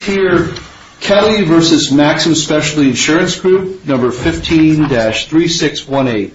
Kelly v. Maxum Specialty Insurance Group 15-3618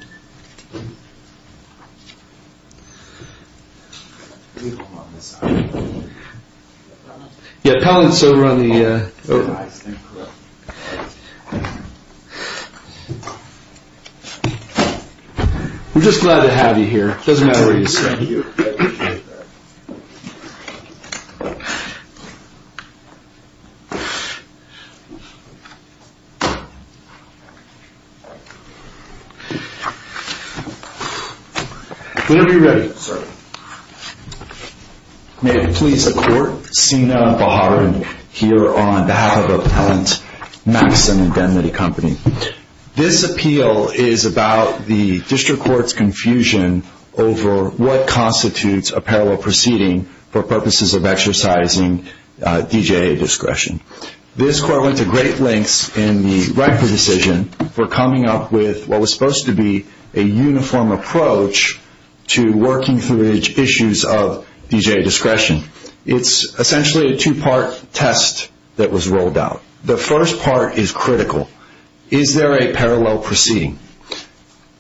May it please the Court, Sina Baharan here on behalf of Appellant Maxum and Denley Company. This appeal is about the District Court's confusion over what constitutes a parallel proceeding for purposes of exercising DJA discretion. This Court went to great lengths in the record decision for coming up with what was supposed to be a uniform approach to working through issues of DJA discretion. It's essentially a two-part test that was rolled out. The first part is critical. Is there a parallel proceeding?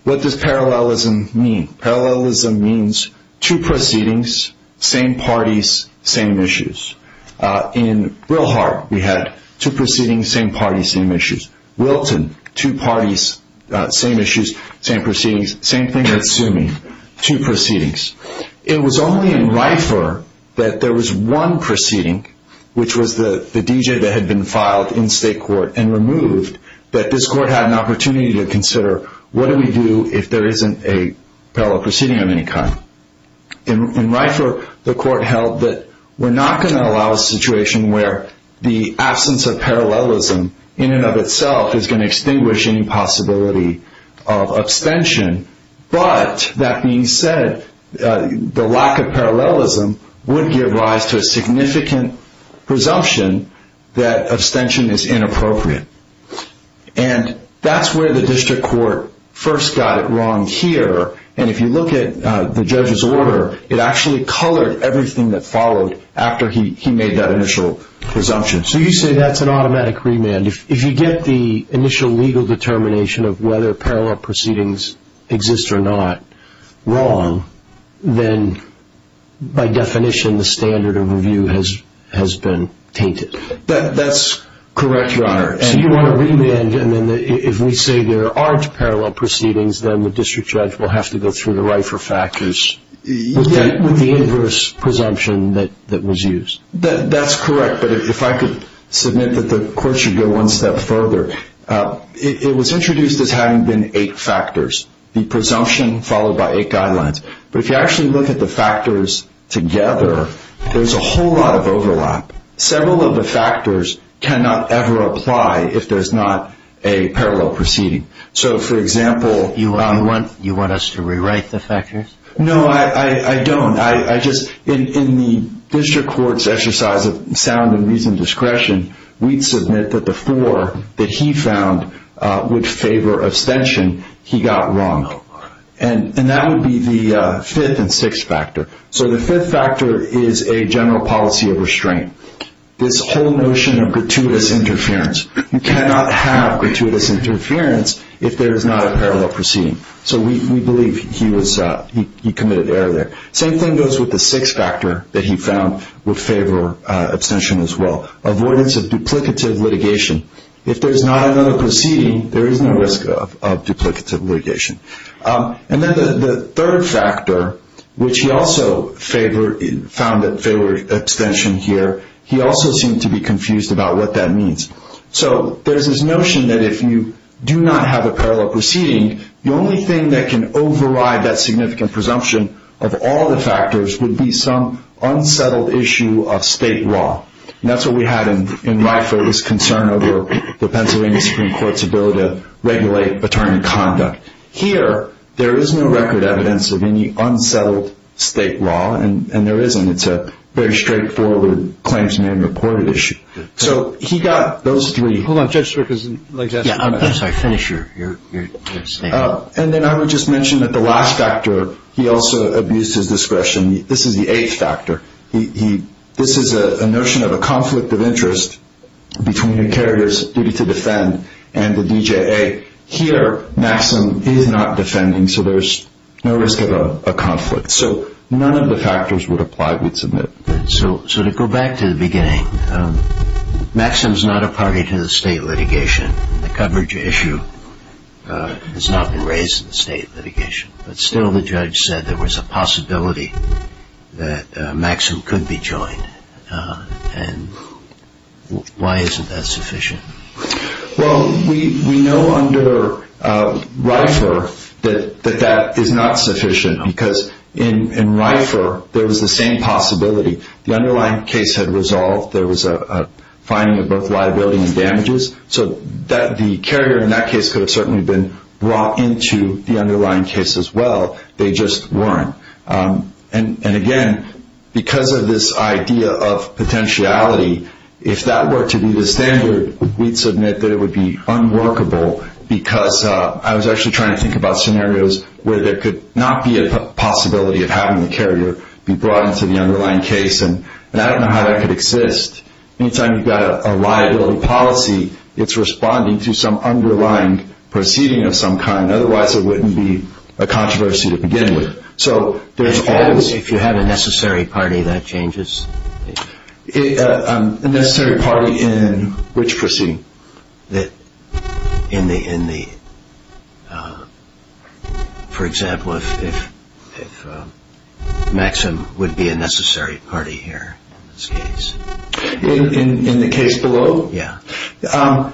What does parallelism mean? Parallelism means two proceedings, same parties, same issues. In Wilhart, we had two proceedings, same parties, same issues. Wilton, two parties, same issues, same proceedings, same thing at Sumi, two proceedings. It was only in Rifer that there was one proceeding, which was the DJA that had been filed in State Court and removed, that this Court had an parallel proceeding of any kind. In Rifer, the Court held that we're not going to allow a situation where the absence of parallelism in and of itself is going to extinguish any possibility of abstention, but that being said, the lack of parallelism would give rise to a significant presumption that abstention is inappropriate. That's where the District Court first got it wrong here, and if you look at the judge's order, it actually colored everything that followed after he made that initial presumption. So you say that's an automatic remand. If you get the initial legal determination of whether parallel proceedings exist or not wrong, then by definition, the standard of review has been tainted. That's correct, Your Honor. So you want a remand, and if we say there aren't parallel proceedings, then the district judge will have to go through the Rifer factors with the inverse presumption that was used? That's correct, but if I could submit that the Court should go one step further, it was introduced as having been eight factors, the presumption followed by eight guidelines. But if you actually look at the factors together, there's a whole lot of overlap. Several of the factors cannot ever apply if there's not a parallel proceeding. So for example... You want us to rewrite the factors? No, I don't. In the District Court's exercise of sound and reasoned discretion, we'd submit that the four that he found would favor abstention, he got wrong. And that would be the fifth and sixth factor. So the fifth factor is a general policy of restraint. This whole notion of gratuitous interference. You cannot have gratuitous interference if there is not a parallel proceeding. So we believe he committed error there. Same thing goes with the sixth factor that he found would favor abstention as well. Avoidance of duplicative litigation. If there's not another proceeding, there is no risk of duplicative litigation. And then the third factor, which he also found that favored abstention here, he also seemed to be confused about what that means. So there's this notion that if you do not have a parallel proceeding, the only thing that can override that significant presumption of all the factors would be some unsettled issue of state law. And that's what we had in Ryeford's concern over the Pennsylvania Supreme Court's ability to regulate attorney conduct. Here, there is no record evidence of any unsettled state law, and there isn't. It's a very straightforward claims-man-reported issue. So he got those three. Hold on, Judge Strickland, I'd like to ask you one other thing. Yeah, I'm sorry. Finish your statement. And then I would just mention that the last factor, he also abused his discretion. This is the eighth factor. This is a notion of a conflict of interest between the carrier's duty to defend and the DJA. Here, Maxim is not defending, so there's no risk of a conflict. So none of the factors would apply, we'd submit. So to go back to the beginning, Maxim's not a party to the state litigation. The coverage issue has not been raised in the state litigation. But still, the judge said there was a possibility that Maxim could be joined. And why isn't that sufficient? Well, we know under Ryeford that that is not sufficient, because in Ryeford, there was the same possibility. The underlying case had resolved. There was a finding of both liability and damages. So the carrier in that case could have certainly been brought into the underlying case as well. They just weren't. And again, because of this idea of potentiality, if that were to be the standard, we'd submit that it would be unworkable, because I was actually trying to think about scenarios where there could not be a possibility of having the carrier be brought into the underlying case. And I don't know how that could exist. Anytime you've got a liability policy, it's responding to some underlying proceeding of some kind. Otherwise, it wouldn't be a controversy to begin with. So if you have a necessary party, that changes? A necessary party in which proceeding? For example, if Maxim would be a necessary party here in this case. In the case below? Yeah. I'm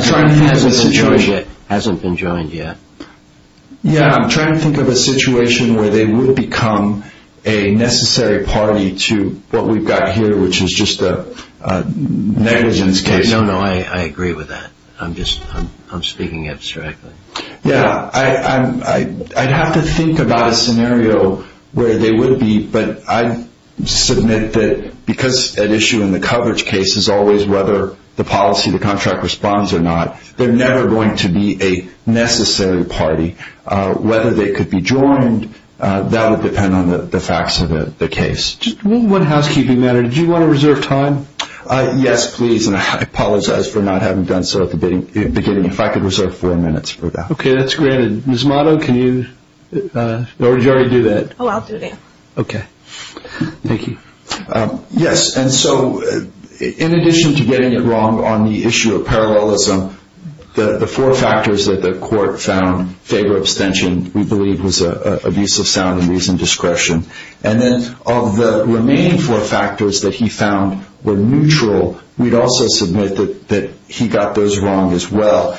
trying to think of a situation... Hasn't been joined yet. Yeah, I'm trying to think of a situation where they would become a necessary party to what we've got here, which is just a negligence case. No, no, I agree with that. I'm speaking abstractly. Yeah, I'd have to think about a scenario where they would be, but I submit that because an issue in the coverage case is always whether the policy, the contract responds or not, they're never going to be a necessary party. Whether they could be joined, that would depend on the facts of the case. One housekeeping matter. Do you want to reserve time? Yes, please. And I apologize for not having done so at the beginning. If I could reserve four minutes for that. Okay, that's granted. Ms. Motto, can you? Or did you already do that? Oh, I'll do that. Okay. Thank you. Yes, and so in addition to getting it wrong on the issue of parallelism, the four factors that the court found, favor, abstention, we believe was abuse of sound and reason, discretion. And then of the remaining four factors that he found were neutral, we'd also submit that he got those wrong as well.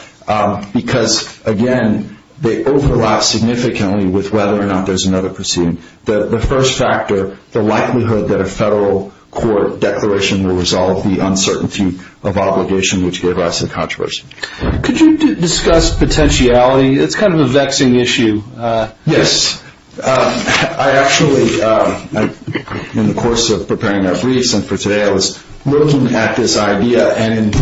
Because again, they overlap significantly with whether or not there's another proceeding. The first factor, the likelihood that a federal court declaration will resolve the uncertainty of obligation, which gave rise to the controversy. Could you discuss potentiality? It's kind of a vexing issue. Yes. I actually, in the course of preparing our briefs and for today, I was looking at this idea and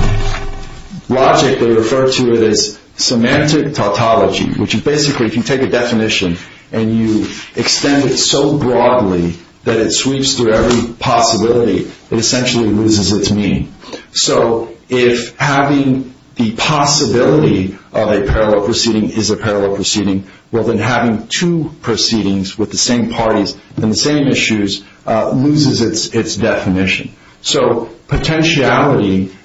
logically refer to it as semantic tautology, which is basically if you take a definition and you extend it so broadly that it sweeps through every possibility, it essentially loses its meaning. So if having the possibility of a parallel proceeding is a parallel proceeding, well then having two proceedings with the same parties and the same issues loses its definition. So potentiality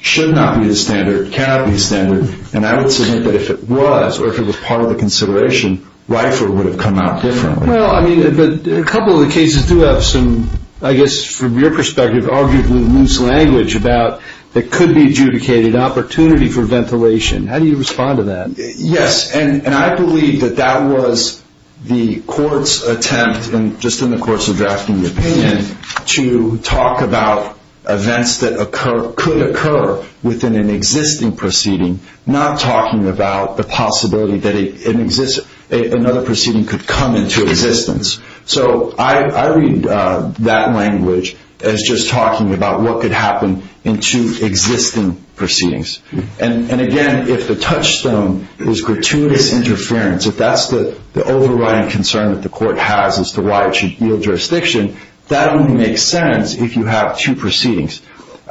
should not be the standard, cannot be the standard, and I would submit that if it was, or if it was part of the consideration, RIFER would have come out differently. Well, I mean, a couple of the cases do have some, I guess from your perspective, arguably loose language about it could be adjudicated opportunity for ventilation. How do you respond to that? Yes. And I believe that that was the court's attempt, and just in the course of drafting the opinion, to talk about events that could occur within an existing proceeding, not talking about the possibility that another proceeding could come into existence. So I read that language as just talking about what could happen in two existing proceedings. And again, if the touchstone is gratuitous interference, if that's the overriding concern that the court has as to why it should yield jurisdiction, that only makes sense if you have two proceedings.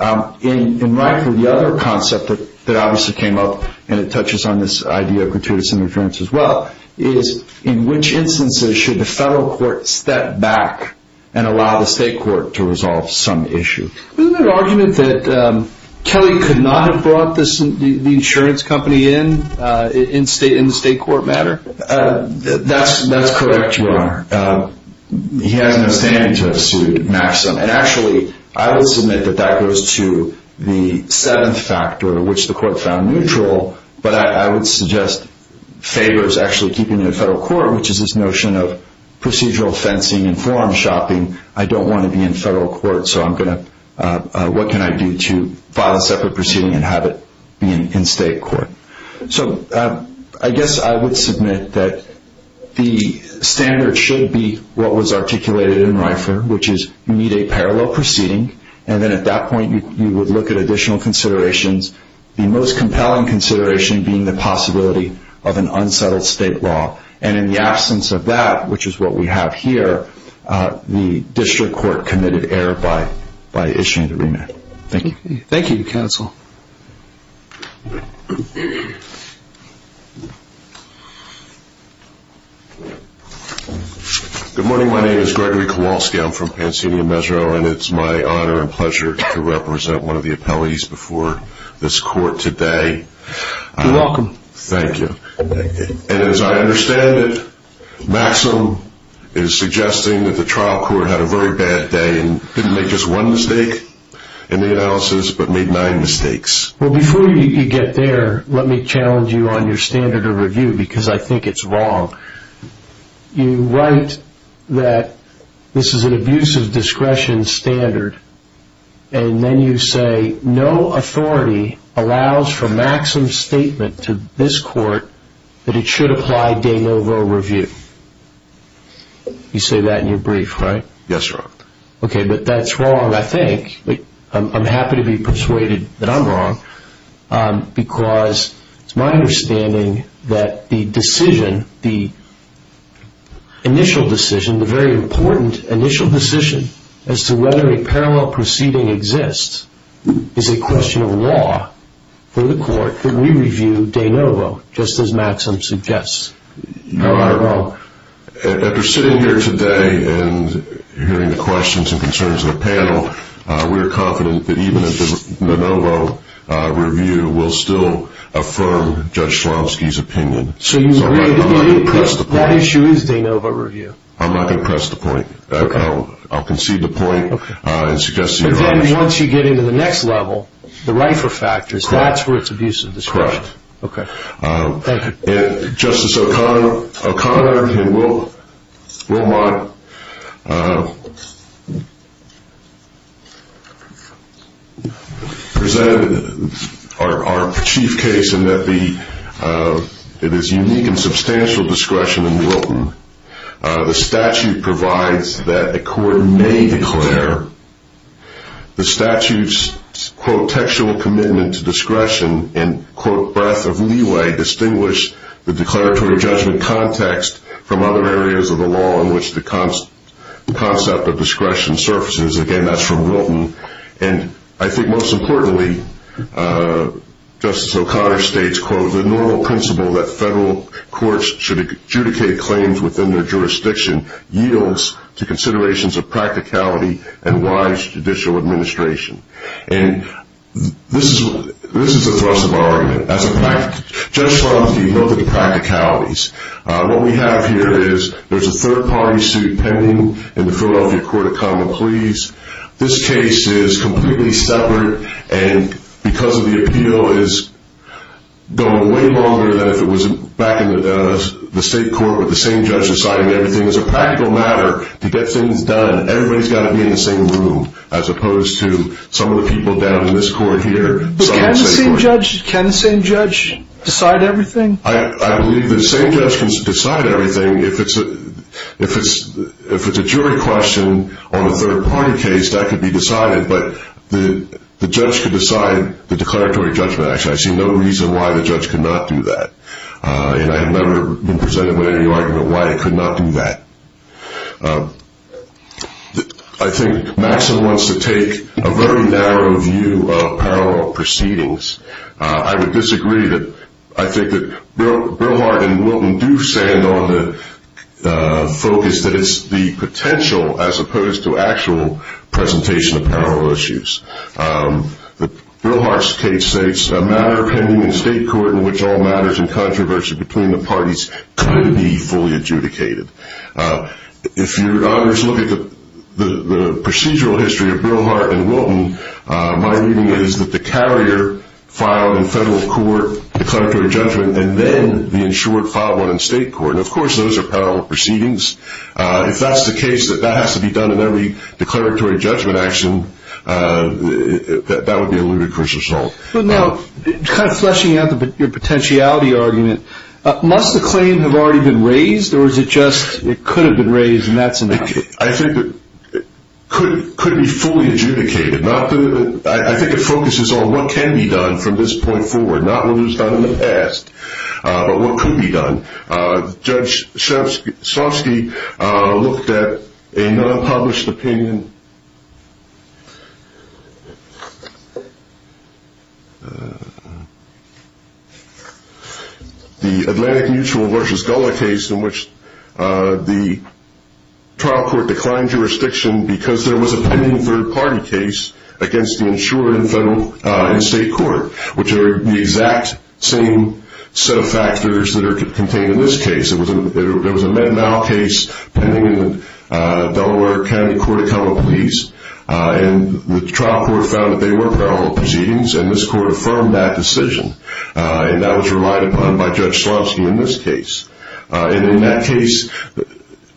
In RIFER, the other concept that obviously came up, and it touches on this idea of gratuitous interference as well, is in which instances should the federal court step back and allow the state court to resolve some issue? Wasn't there an argument that Kelly could not have brought the insurance company in in the state court matter? That's correct, Your Honor. He has no standing to have sued Maxim. And actually, I will submit that that goes to the seventh factor, which the court found neutral. But I would suggest favors actually keeping the federal court, which is this notion of procedural fencing and forum shopping. I don't want to be in a position to say, what can I do to file a separate proceeding and have it be in state court? So I guess I would submit that the standard should be what was articulated in RIFER, which is you need a parallel proceeding. And then at that point, you would look at additional considerations, the most compelling consideration being the possibility of an unsettled state law. And in the absence of that, which is what we have here, the district court committed error by issuing the remand. Thank you. Thank you, counsel. Good morning. My name is Gregory Kowalski. I'm from Pansinia-Mezro, and it's my honor and pleasure to represent one of the appellees before this court today. You're welcome. Thank you. And as I understand it, Maxim is suggesting that the trial court had a very bad day and didn't make just one mistake in the analysis, but made nine mistakes. Well, before you get there, let me challenge you on your standard of review, because I think it's wrong. You write that this is an abuse of discretion standard, and then you say no authority allows for Maxim's statement to this court that it should apply de novo review. You say that in your brief, right? Yes, Your Honor. Okay, but that's wrong, I think. I'm happy to be persuaded that I'm wrong, because it's my understanding that the decision, the initial decision, the very important initial decision as to whether a parallel proceeding exists is a question of law for the court that we review de novo, just as Maxim suggests. Your Honor, after sitting here today and hearing the questions and concerns of the panel, we're confident that even a de novo review will still affirm Judge Schlomsky's opinion. So you agree that that issue is de novo review? I'm not going to press the point. I'll concede the point and suggest that you're right. But then once you get into the next level, the RIFRA factors, that's where it's abuse of discretion. Correct. Okay, thank you. Justice O'Connor and Wilmot presented our chief case in that it is unique and substantial discretion in Wilton. The statute provides that a court may declare the statute's, quote, textual commitment to discretion and, quote, breadth of leeway distinguish the declaratory judgment context from other areas of the law in which the concept of discretion surfaces. Again, that's from Wilton. And I think most importantly, Justice O'Connor states, quote, the normal principle that federal courts should of practicality and wise judicial administration. And this is the thrust of our argument. That's a fact. Judge Schlomsky noted the practicalities. What we have here is there's a third-party suit pending in the Philadelphia Court of Common Pleas. This case is completely separate and because of the appeal is going way longer than if it was back in the state court with the same judge deciding everything. It's a practical matter to get things done. Everybody's got to be in the same room as opposed to some of the people down in this court here. But can the same judge decide everything? I believe the same judge can decide everything. If it's a jury question on a third-party case, that could be decided. But the judge could decide the declaratory judgment. Actually, I see no reason why the judge could not do that. And I have never been presented with any argument why it could not do that. I think Maxon wants to take a very narrow view of parallel proceedings. I would disagree that I think that Bill Hart and Wilton do stand on the focus that it's the potential as opposed to actual presentation of parallel issues. Bill Hart's case states, a matter of controversy between the parties couldn't be fully adjudicated. If you look at the procedural history of Bill Hart and Wilton, my reading is that the carrier filed in federal court declaratory judgment and then the insured filed one in state court. Of course, those are parallel proceedings. If that's the case that that has to be done in every declaratory judgment action, that would be a ludicrous assault. But now, kind of fleshing out your potentiality argument, must the claim have already been raised, or is it just it could have been raised and that's enough? I think it could be fully adjudicated. I think it focuses on what can be done from this point forward, not what was done in the past, but what could be done. Judge Sofsky looked at a non-published opinion, the Atlantic Mutual vs. Gullah case in which the trial court declined jurisdiction because there was a pending third party case against the insured in federal and state court, which are the exact same set of factors that are contained in this case. There was a MedMal case pending in the Delaware County Court of Common Pleas, and the trial court found that they were parallel proceedings, and this court affirmed that decision, and that was relied upon by Judge Sofsky in this case. And in that case,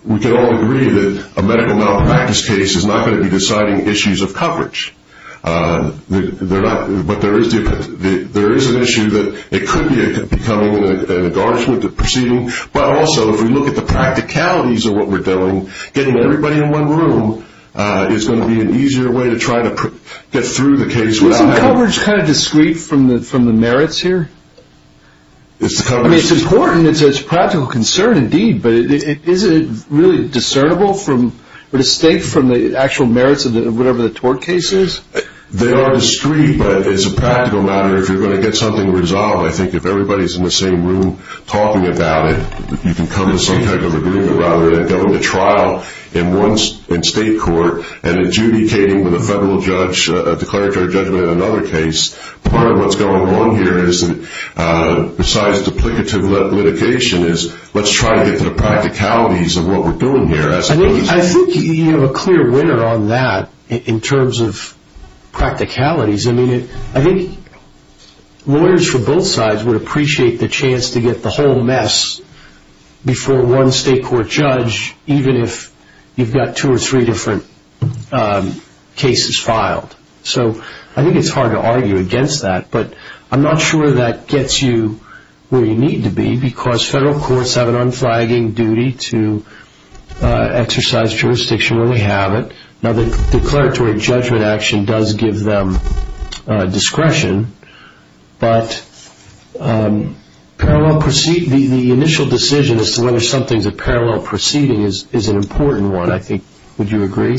we can all agree that a medical malpractice case is not going to be deciding issues of coverage. But there is an issue that it could be becoming an endorsement of the proceeding, but also if we look at the practicalities of what we're doing, getting everybody in one room is going to be an easier way to try to get through the case. Isn't coverage kind of discreet from the merits here? I mean, it's important, it's a practical concern indeed, but is it really discernible from, or distinct from the actual merits of whatever the tort case is? They are discreet, but it's a practical matter. If you're going to get something resolved, I think if everybody's in the same room talking about it, you can come to some type of agreement rather than going to trial in state court and adjudicating with a federal judge, a declaratory judgment in another case. Part of what's going on here is, besides duplicative litigation, is let's try to get to the practicalities of what we're doing here. I think you have a clear winner on that in terms of practicalities. I think lawyers from both sides would appreciate the chance to get the whole mess before one state court judge, even if you've got two or three different cases filed. So I think it's hard to argue against that, but I'm not sure that gets you where you need to be because federal courts have an unflagging duty to exercise jurisdiction when they have it. Now, the declaratory judgment action does give them discretion, but the initial decision as to whether something's a parallel proceeding is an important one, I think. Would you agree?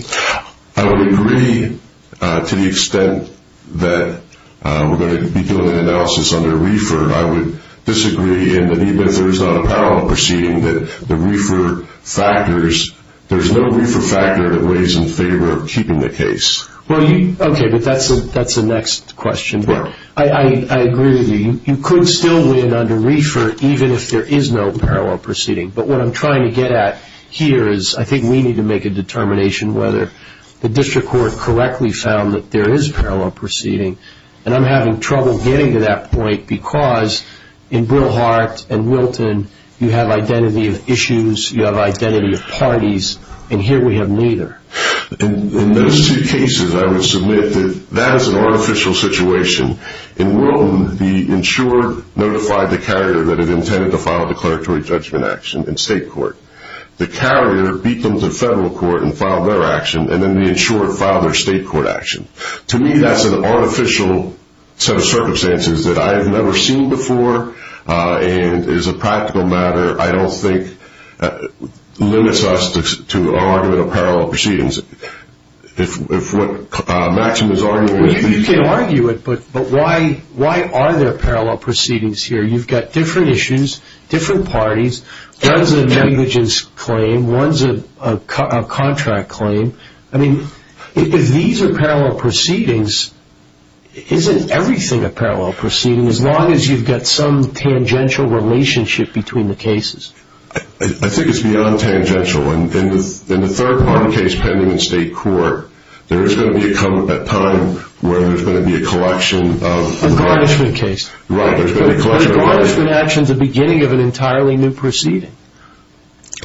I would agree to the extent that we're going to be doing an analysis under referred. I would disagree in that even if there's not a parallel proceeding, that the referred factors, there's no referred factor that weighs in favor of keeping the case. Okay, but that's the next question. I agree with you. You could still win under referred even if there is no parallel proceeding, but what I'm trying to get at here is I think we need to make a determination whether the district court correctly found that there is a parallel proceeding, and I'm having trouble getting to that point because in Brewhart and Wilton, you have identity of issues, you have identity of parties, and here we have neither. In those two cases, I would submit that that is an artificial situation. In Wilton, the insurer notified the carrier that it intended to file a declaratory judgment action in state court. The carrier beat them to federal court and filed their action, and then the insurer filed their state court action. To me, that's an artificial set of circumstances that I have never seen before, and as a practical matter, I don't think limits us to argument of parallel proceedings. If what Maxim is arguing is... You can argue it, but why are there parallel proceedings here? You've got different issues, different parties, one's a negligence claim, one's a contract claim. If these are parallel proceedings, isn't everything a parallel proceeding as long as you've got some tangential relationship between the cases? I think it's beyond tangential. In the third part of the case pending in state court, there is going to come a time where there's going to be a collection of... A garnishment case. A garnishment action is the beginning of an entirely new proceeding.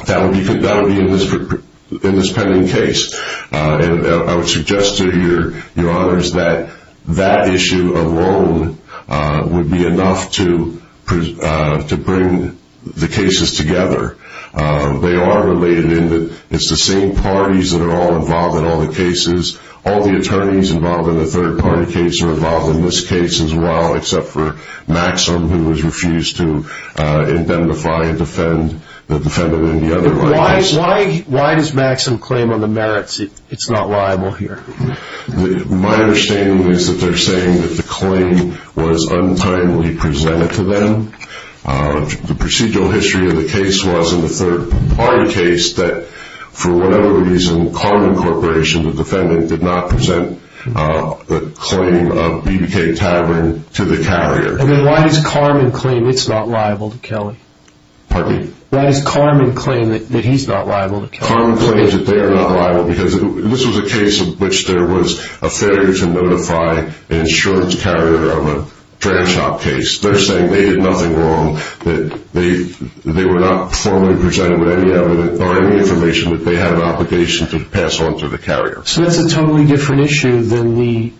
That would be in this pending case. I would suggest to your honors that that issue alone would be enough to bring the cases together. They are related in that it's the same parties that are all involved in all the cases. All the attorneys involved in the third party case are involved in this case as well, except for Maxim, who has refused to indemnify and defend the defendant in the other case. Why does Maxim claim on the merits it's not liable here? My understanding is that they're saying that the claim was untimely presented to them. The procedural history of the case was in the third party case that, for whatever reason, Karman Corporation, the defendant, did not present the claim of BBK Tavern to the carrier. Then why does Karman claim it's not liable to Kelly? Pardon me? Why does Karman claim that he's not liable to Kelly? Karman claims that they are not liable because this was a case in which there was a failure to notify an insurance carrier of a trash top case. They're saying they did nothing wrong. They were not formally presented with any information that they had an obligation to pass on to the carrier. So that's a totally different issue than the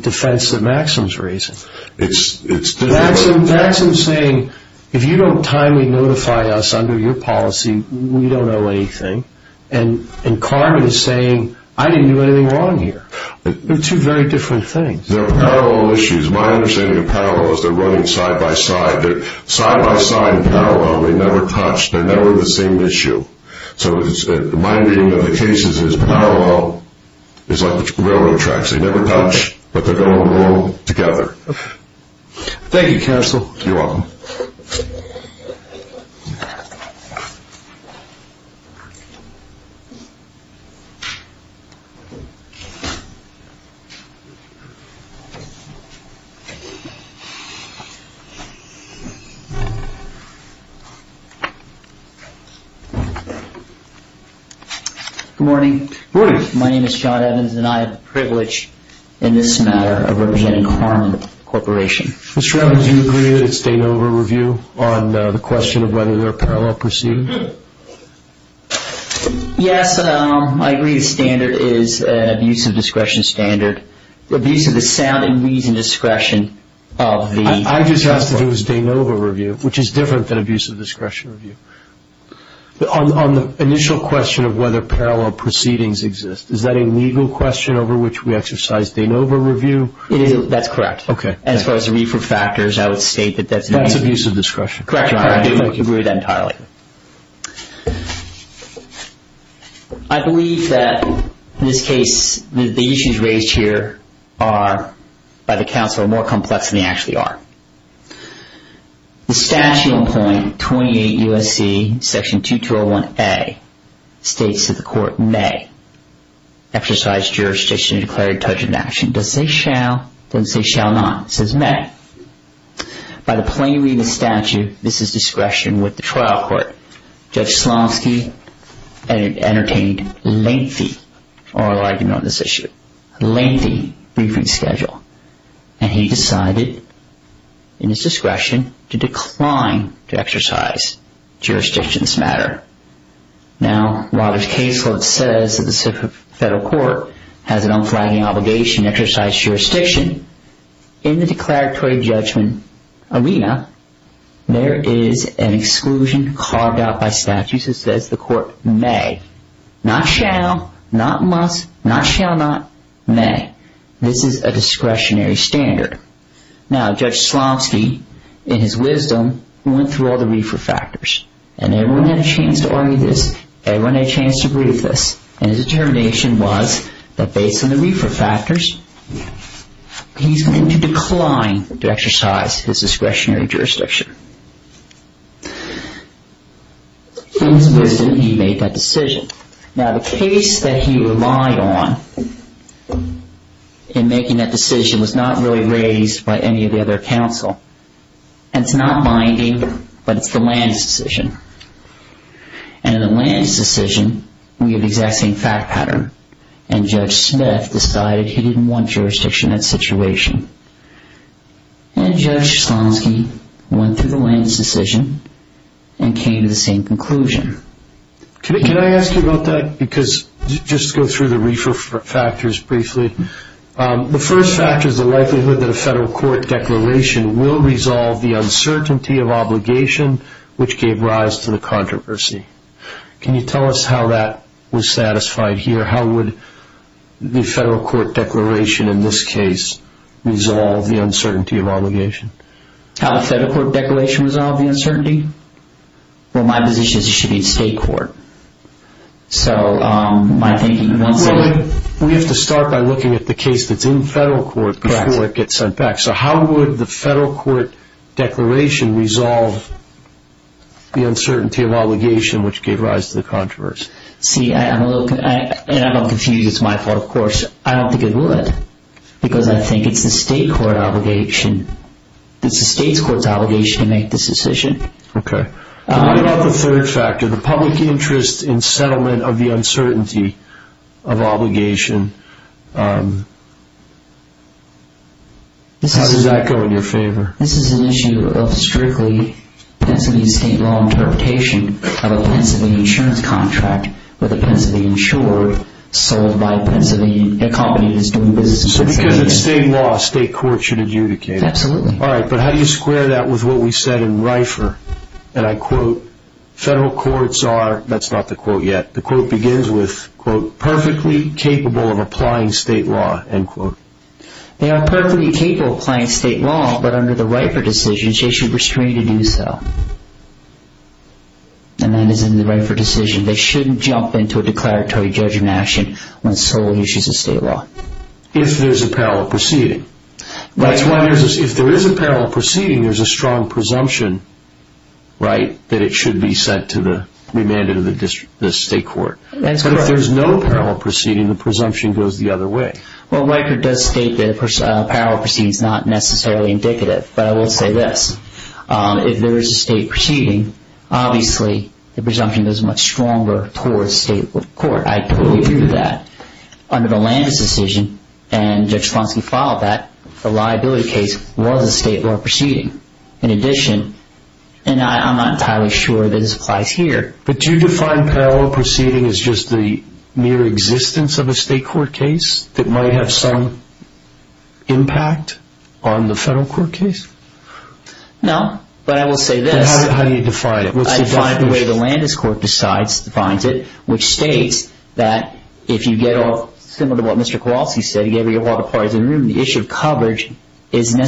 defense that Maxim's raising. Maxim's saying, if you don't timely notify us under your policy, we don't owe anything. And Karman is saying, I didn't do anything wrong here. They're two very different things. They're parallel issues. My understanding of parallel is they're running side-by-side. They're side-by-side in parallel. They never touch. They're never the same issue. So my understanding of the cases is parallel is like the railroad tracks. They never touch, but they're going to roll together. Thank you, counsel. You're welcome. Good morning. Good morning. My name is John Evans, and I have the privilege in this matter of representing Karman Corporation. Mr. Evans, do you agree that it's a no-over review on the question of whether they're parallel proceedings? Yes, I agree the standard is an abuse of discretion standard. I just asked if it was a no-over review, which is different than abuse of discretion review. On the initial question of whether parallel proceedings exist, is that a legal question over which we exercise the no-over review? That's correct. Okay. As far as the refer factors, I would state that that's an abuse of discretion. Correct. I agree with that entirely. I believe that, in this case, the issues raised here are, by the counsel, more complex than they actually are. The statute in point 28 U.S.C. section 2201A states that the court may exercise jurisdiction to declare a detergent action. Does it say shall? It doesn't say shall not. It says may. By the plain reading of the statute, this is discretion with the trial court. Judge Slomsky entertained lengthy oral argument on this issue. Lengthy briefing schedule. And he decided, in his discretion, to decline to exercise jurisdiction in this matter. Now, while his case law says that the federal court has an unflagging obligation to exercise jurisdiction, in the declaratory judgment arena, there is an exclusion carved out by statute that says the court may. Not shall. Not must. Not shall not. May. This is a discretionary standard. Now, Judge Slomsky, in his wisdom, went through all the refer factors. And everyone had a chance to argue this. Everyone had a chance to agree with this. And his determination was that based on the refer factors, he's going to decline to exercise his discretionary jurisdiction. In his wisdom, he made that decision. Now, the case that he relied on in making that decision was not really raised by any of the other counsel. And it's not binding, but it's the land's decision. And in the land's decision, we have the exact same fact pattern. And Judge Smith decided he didn't want jurisdiction in that situation. And Judge Slomsky went through the land's decision and came to the same conclusion. Can I ask you about that? Because just to go through the refer factors briefly. The first factor is the likelihood that a federal court declaration will resolve the uncertainty of obligation, which gave rise to the controversy. Can you tell us how that was satisfied here? How would the federal court declaration in this case resolve the uncertainty of obligation? How the federal court declaration resolved the uncertainty? Well, my position is it should be in state court. So my thinking is that it should be in state court. We have to start by looking at the case that's in federal court before it gets sent back. So how would the federal court declaration resolve the uncertainty of obligation, which gave rise to the controversy? See, I'm a little confused. It's my fault, of course. I don't think it would because I think it's the state court obligation. It's the state's court's obligation to make this decision. Okay. What about the third factor, the public interest in settlement of the uncertainty of obligation? How does that go in your favor? This is an issue of strictly Pennsylvania state law interpretation of a Pennsylvania insurance contract with a Pennsylvania insurer sold by a Pennsylvania company that's doing business with Pennsylvania. So because it's state law, state court should adjudicate it. Absolutely. All right. But how do you square that with what we said in Reifer? And I quote, federal courts are, that's not the quote yet. The quote begins with, quote, perfectly capable of applying state law, end quote. They are perfectly capable of applying state law, but under the Reifer decisions, they should restrain to do so. And that is in the Reifer decision. They shouldn't jump into a declaratory judgment action when solely issues of state law. If there's a parallel proceeding. That's why there's a, if there is a parallel proceeding, there's a strong presumption, right, that it should be sent to the remanded of the district, the state court. But if there's no parallel proceeding, the presumption goes the other way. Well, Reifer does state that a parallel proceeding is not necessarily indicative. But I will say this. If there is a state proceeding, obviously the presumption is much stronger towards state court. I totally agree with that. Under the Landis decision, and Judge Slonsky followed that, the liability case was a state law proceeding. In addition, and I'm not entirely sure that this applies here. But do you define parallel proceeding as just the mere existence of a state court case that might have some impact on the federal court case? No, but I will say this. How do you define it? I define it the way the Landis court decides, defines it, which states that if you get off, similar to what Mr. Kowalski said, the issue of coverage needs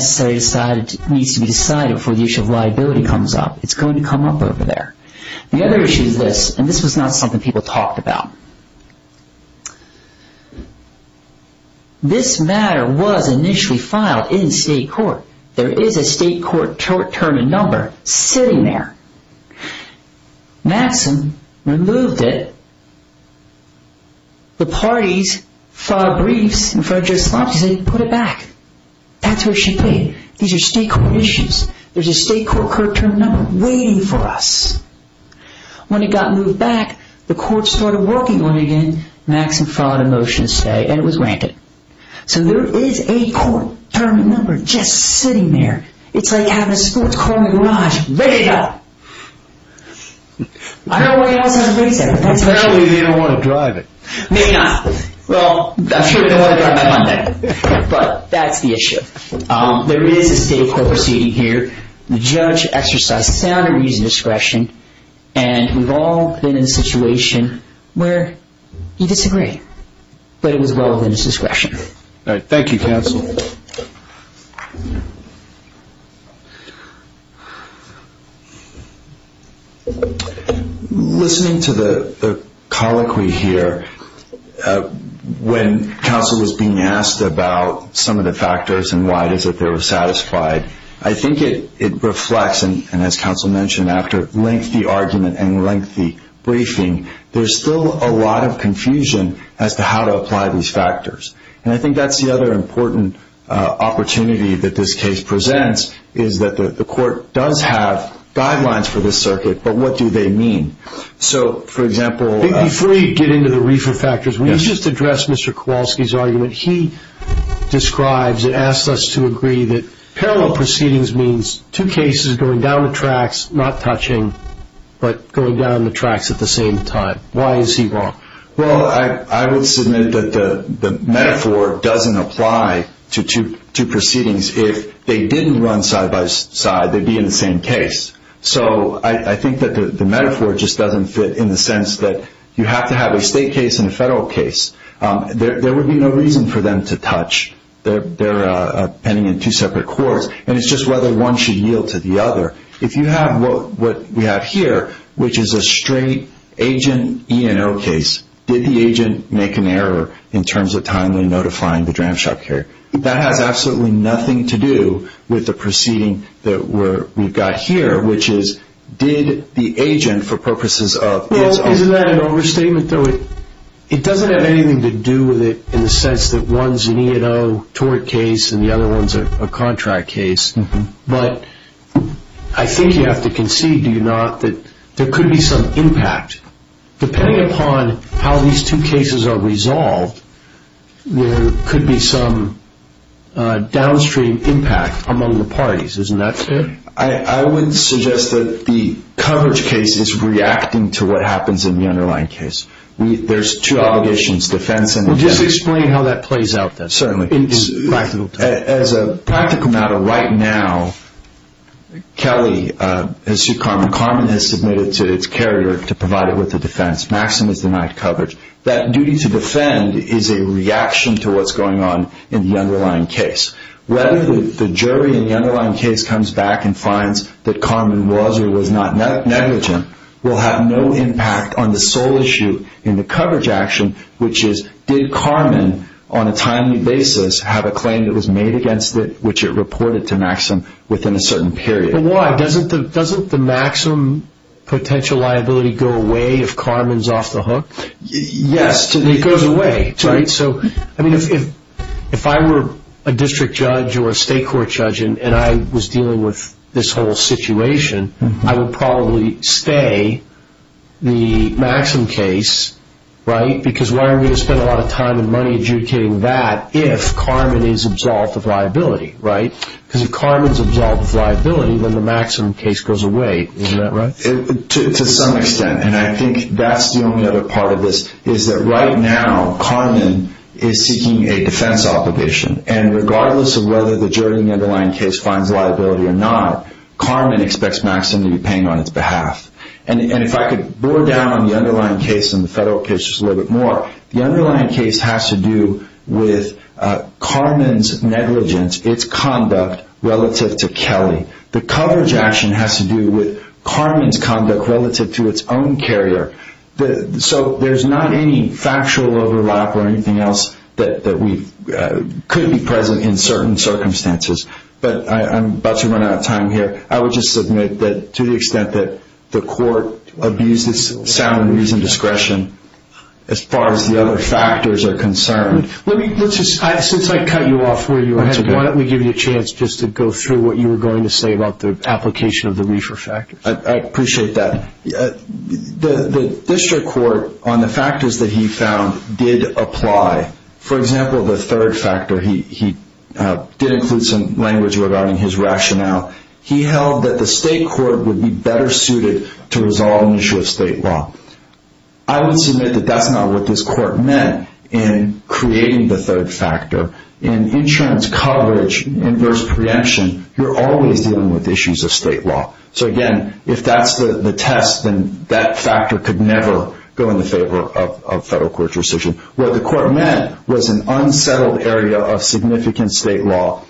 to be decided before the issue of liability comes up. It's going to come up over there. The other issue is this, and this was not something people talked about. This matter was initially filed in state court. There is a state court term and number sitting there. Maxim removed it. The parties filed briefs in front of Judge Slonsky and said put it back. That's what she did. These are state court issues. There's a state court court term number waiting for us. When it got moved back, the court started working on it again. Maxim filed a motion to stay, and it was granted. So there is a court term and number just sitting there. It's like having a sports car in the garage, ready to go. I don't know why you always have to raise that, but that's the issue. Apparently they don't want to drive it. Maybe not. Well, I'm sure they want to drive it by Monday, but that's the issue. There is a state court proceeding here. The judge exercised sound and reasonable discretion, and we've all been in a situation where you disagree, but it was well within his discretion. Thank you. Thank you, counsel. Listening to the colloquy here, when counsel was being asked about some of the factors and why it is that they were satisfied, I think it reflects, and as counsel mentioned, after lengthy argument and lengthy briefing, there is still a lot of confusion as to how to apply these factors. And I think that's the other important opportunity that this case presents, is that the court does have guidelines for this circuit, but what do they mean? So, for example... Before we get into the reefer factors, will you just address Mr. Kowalski's argument? He describes and asks us to agree that parallel proceedings means two cases going down the tracks, not touching, but going down the tracks at the same time. Why is he wrong? Well, I would submit that the metaphor doesn't apply to two proceedings. If they didn't run side by side, they'd be in the same case. So I think that the metaphor just doesn't fit in the sense that you have to have a state case and a federal case. There would be no reason for them to touch. They're pending in two separate courts, and it's just whether one should yield to the other. If you have what we have here, which is a straight agent E&O case, did the agent make an error in terms of timely notifying the dram shop carrier? That has absolutely nothing to do with the proceeding that we've got here, which is, did the agent, for purposes of... Well, isn't that an overstatement, though? It doesn't have anything to do with it in the sense that one's an E&O tort case and the other one's a contract case. But I think you have to concede, do you not, that there could be some impact. Depending upon how these two cases are resolved, there could be some downstream impact among the parties. Isn't that true? I would suggest that the coverage case is reacting to what happens in the underlying case. There's two obligations, defense and... Well, just explain how that plays out, then. Certainly. As a practical matter, right now, Kelly has sued Carmen. Carmen has submitted to its carrier to provide it with the defense. Maxim has denied coverage. That duty to defend is a reaction to what's going on in the underlying case. Whether the jury in the underlying case comes back and finds that Carmen was or was not negligent will have no impact on the sole issue in the coverage action, which is, did Carmen, on a timely basis, have a claim that was made against it, which it reported to Maxim within a certain period. But why? Doesn't the Maxim potential liability go away if Carmen's off the hook? Yes. It goes away, right? If I were a district judge or a state court judge and I was dealing with this whole situation, I would probably stay the Maxim case, right? Because why are we going to spend a lot of time and money adjudicating that if Carmen is absolved of liability, right? Because if Carmen's absolved of liability, then the Maxim case goes away. Isn't that right? To some extent, and I think that's the only other part of this, is that right now Carmen is seeking a defense obligation. And regardless of whether the jury in the underlying case finds liability or not, Carmen expects Maxim to be paying on its behalf. And if I could bore down on the underlying case and the federal case just a little bit more, the underlying case has to do with Carmen's negligence, its conduct, relative to Kelly. The coverage action has to do with Carmen's conduct relative to its own carrier. So there's not any factual overlap or anything else that could be present in certain circumstances. But I'm about to run out of time here. I would just submit that to the extent that the court abused its sound and reasoned discretion, as far as the other factors are concerned. Since I cut you off where you were heading, why don't we give you a chance just to go through what you were going to say about the application of the reefer factors. I appreciate that. The district court, on the factors that he found, did apply. For example, the third factor, he did include some language regarding his rationale. He held that the state court would be better suited to resolve an issue of state law. I would submit that that's not what this court meant in creating the third factor. In insurance coverage, inverse preemption, you're always dealing with issues of state law. So, again, if that's the test, then that factor could never go in the favor of federal court decision. What the court meant was an unsettled area of significant state law,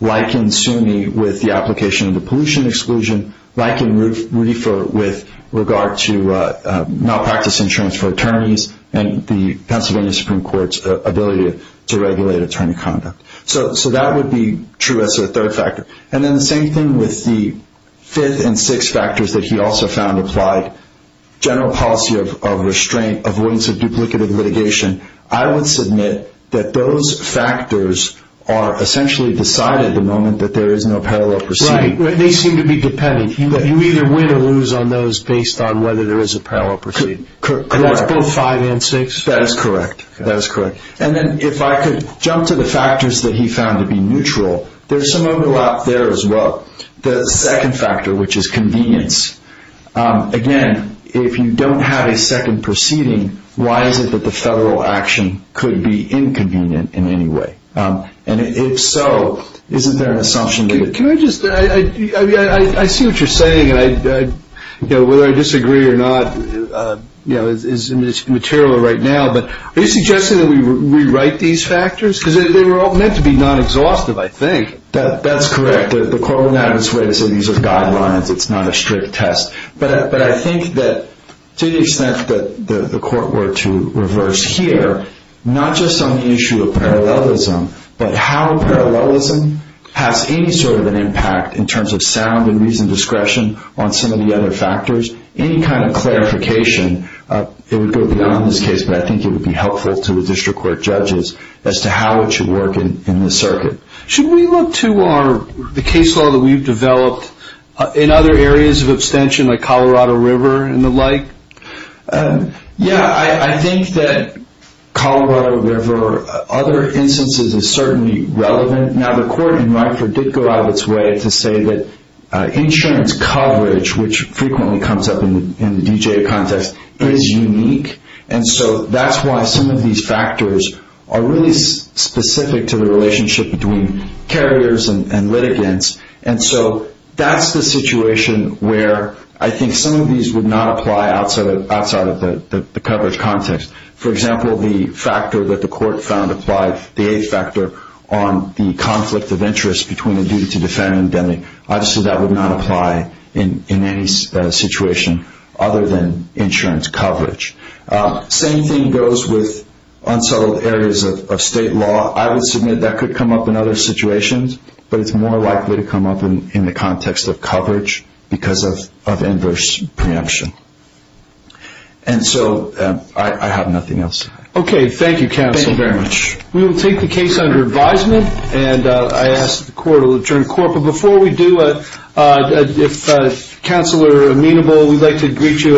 like in SUNY with the application of the pollution exclusion, like in reefer with regard to malpractice insurance for attorneys and the Pennsylvania Supreme Court's ability to regulate attorney conduct. So that would be true as a third factor. And then the same thing with the fifth and sixth factors that he also found applied, general policy of restraint, avoidance of duplicative litigation. I would submit that those factors are essentially decided the moment that there is no parallel proceeding. Right. They seem to be dependent. You either win or lose on those based on whether there is a parallel proceeding. Correct. And that's both five and six? That is correct. That is correct. And then if I could jump to the factors that he found to be neutral, there's some overlap there as well. The second factor, which is convenience. Again, if you don't have a second proceeding, why is it that the federal action could be inconvenient in any way? And if so, isn't there an assumption that- Can I just- I see what you're saying, and whether I disagree or not is material right now, but are you suggesting that we rewrite these factors? Because they were all meant to be non-exhaustive, I think. That's correct. The court would not have its way to say these are guidelines, it's not a strict test. But I think that to the extent that the court were to reverse here, not just on the issue of parallelism, but how parallelism has any sort of an impact in terms of sound and reasoned discretion on some of the other factors, any kind of clarification, it would go beyond this case, but I think it would be helpful to the district court judges as to how it should work in this circuit. Should we look to the case law that we've developed in other areas of abstention, like Colorado River and the like? Yeah, I think that Colorado River, other instances, is certainly relevant. Now, the court in Reiffer did go out of its way to say that insurance coverage, which frequently comes up in the DGA context, is unique, and so that's why some of these factors are really specific to the relationship between carriers and litigants. And so that's the situation where I think some of these would not apply outside of the coverage context. For example, the factor that the court found applied, the A factor, on the conflict of interest between the duty-to-defend and the deadly, obviously that would not apply in any situation other than insurance coverage. Same thing goes with unsettled areas of state law. I would submit that could come up in other situations, but it's more likely to come up in the context of coverage because of inverse preemption. And so I have nothing else to add. Okay, thank you, counsel, very much. We will take the case under advisement, and I ask that the court will adjourn court. But before we do, if counsel are amenable, we'd like to greet you at the end.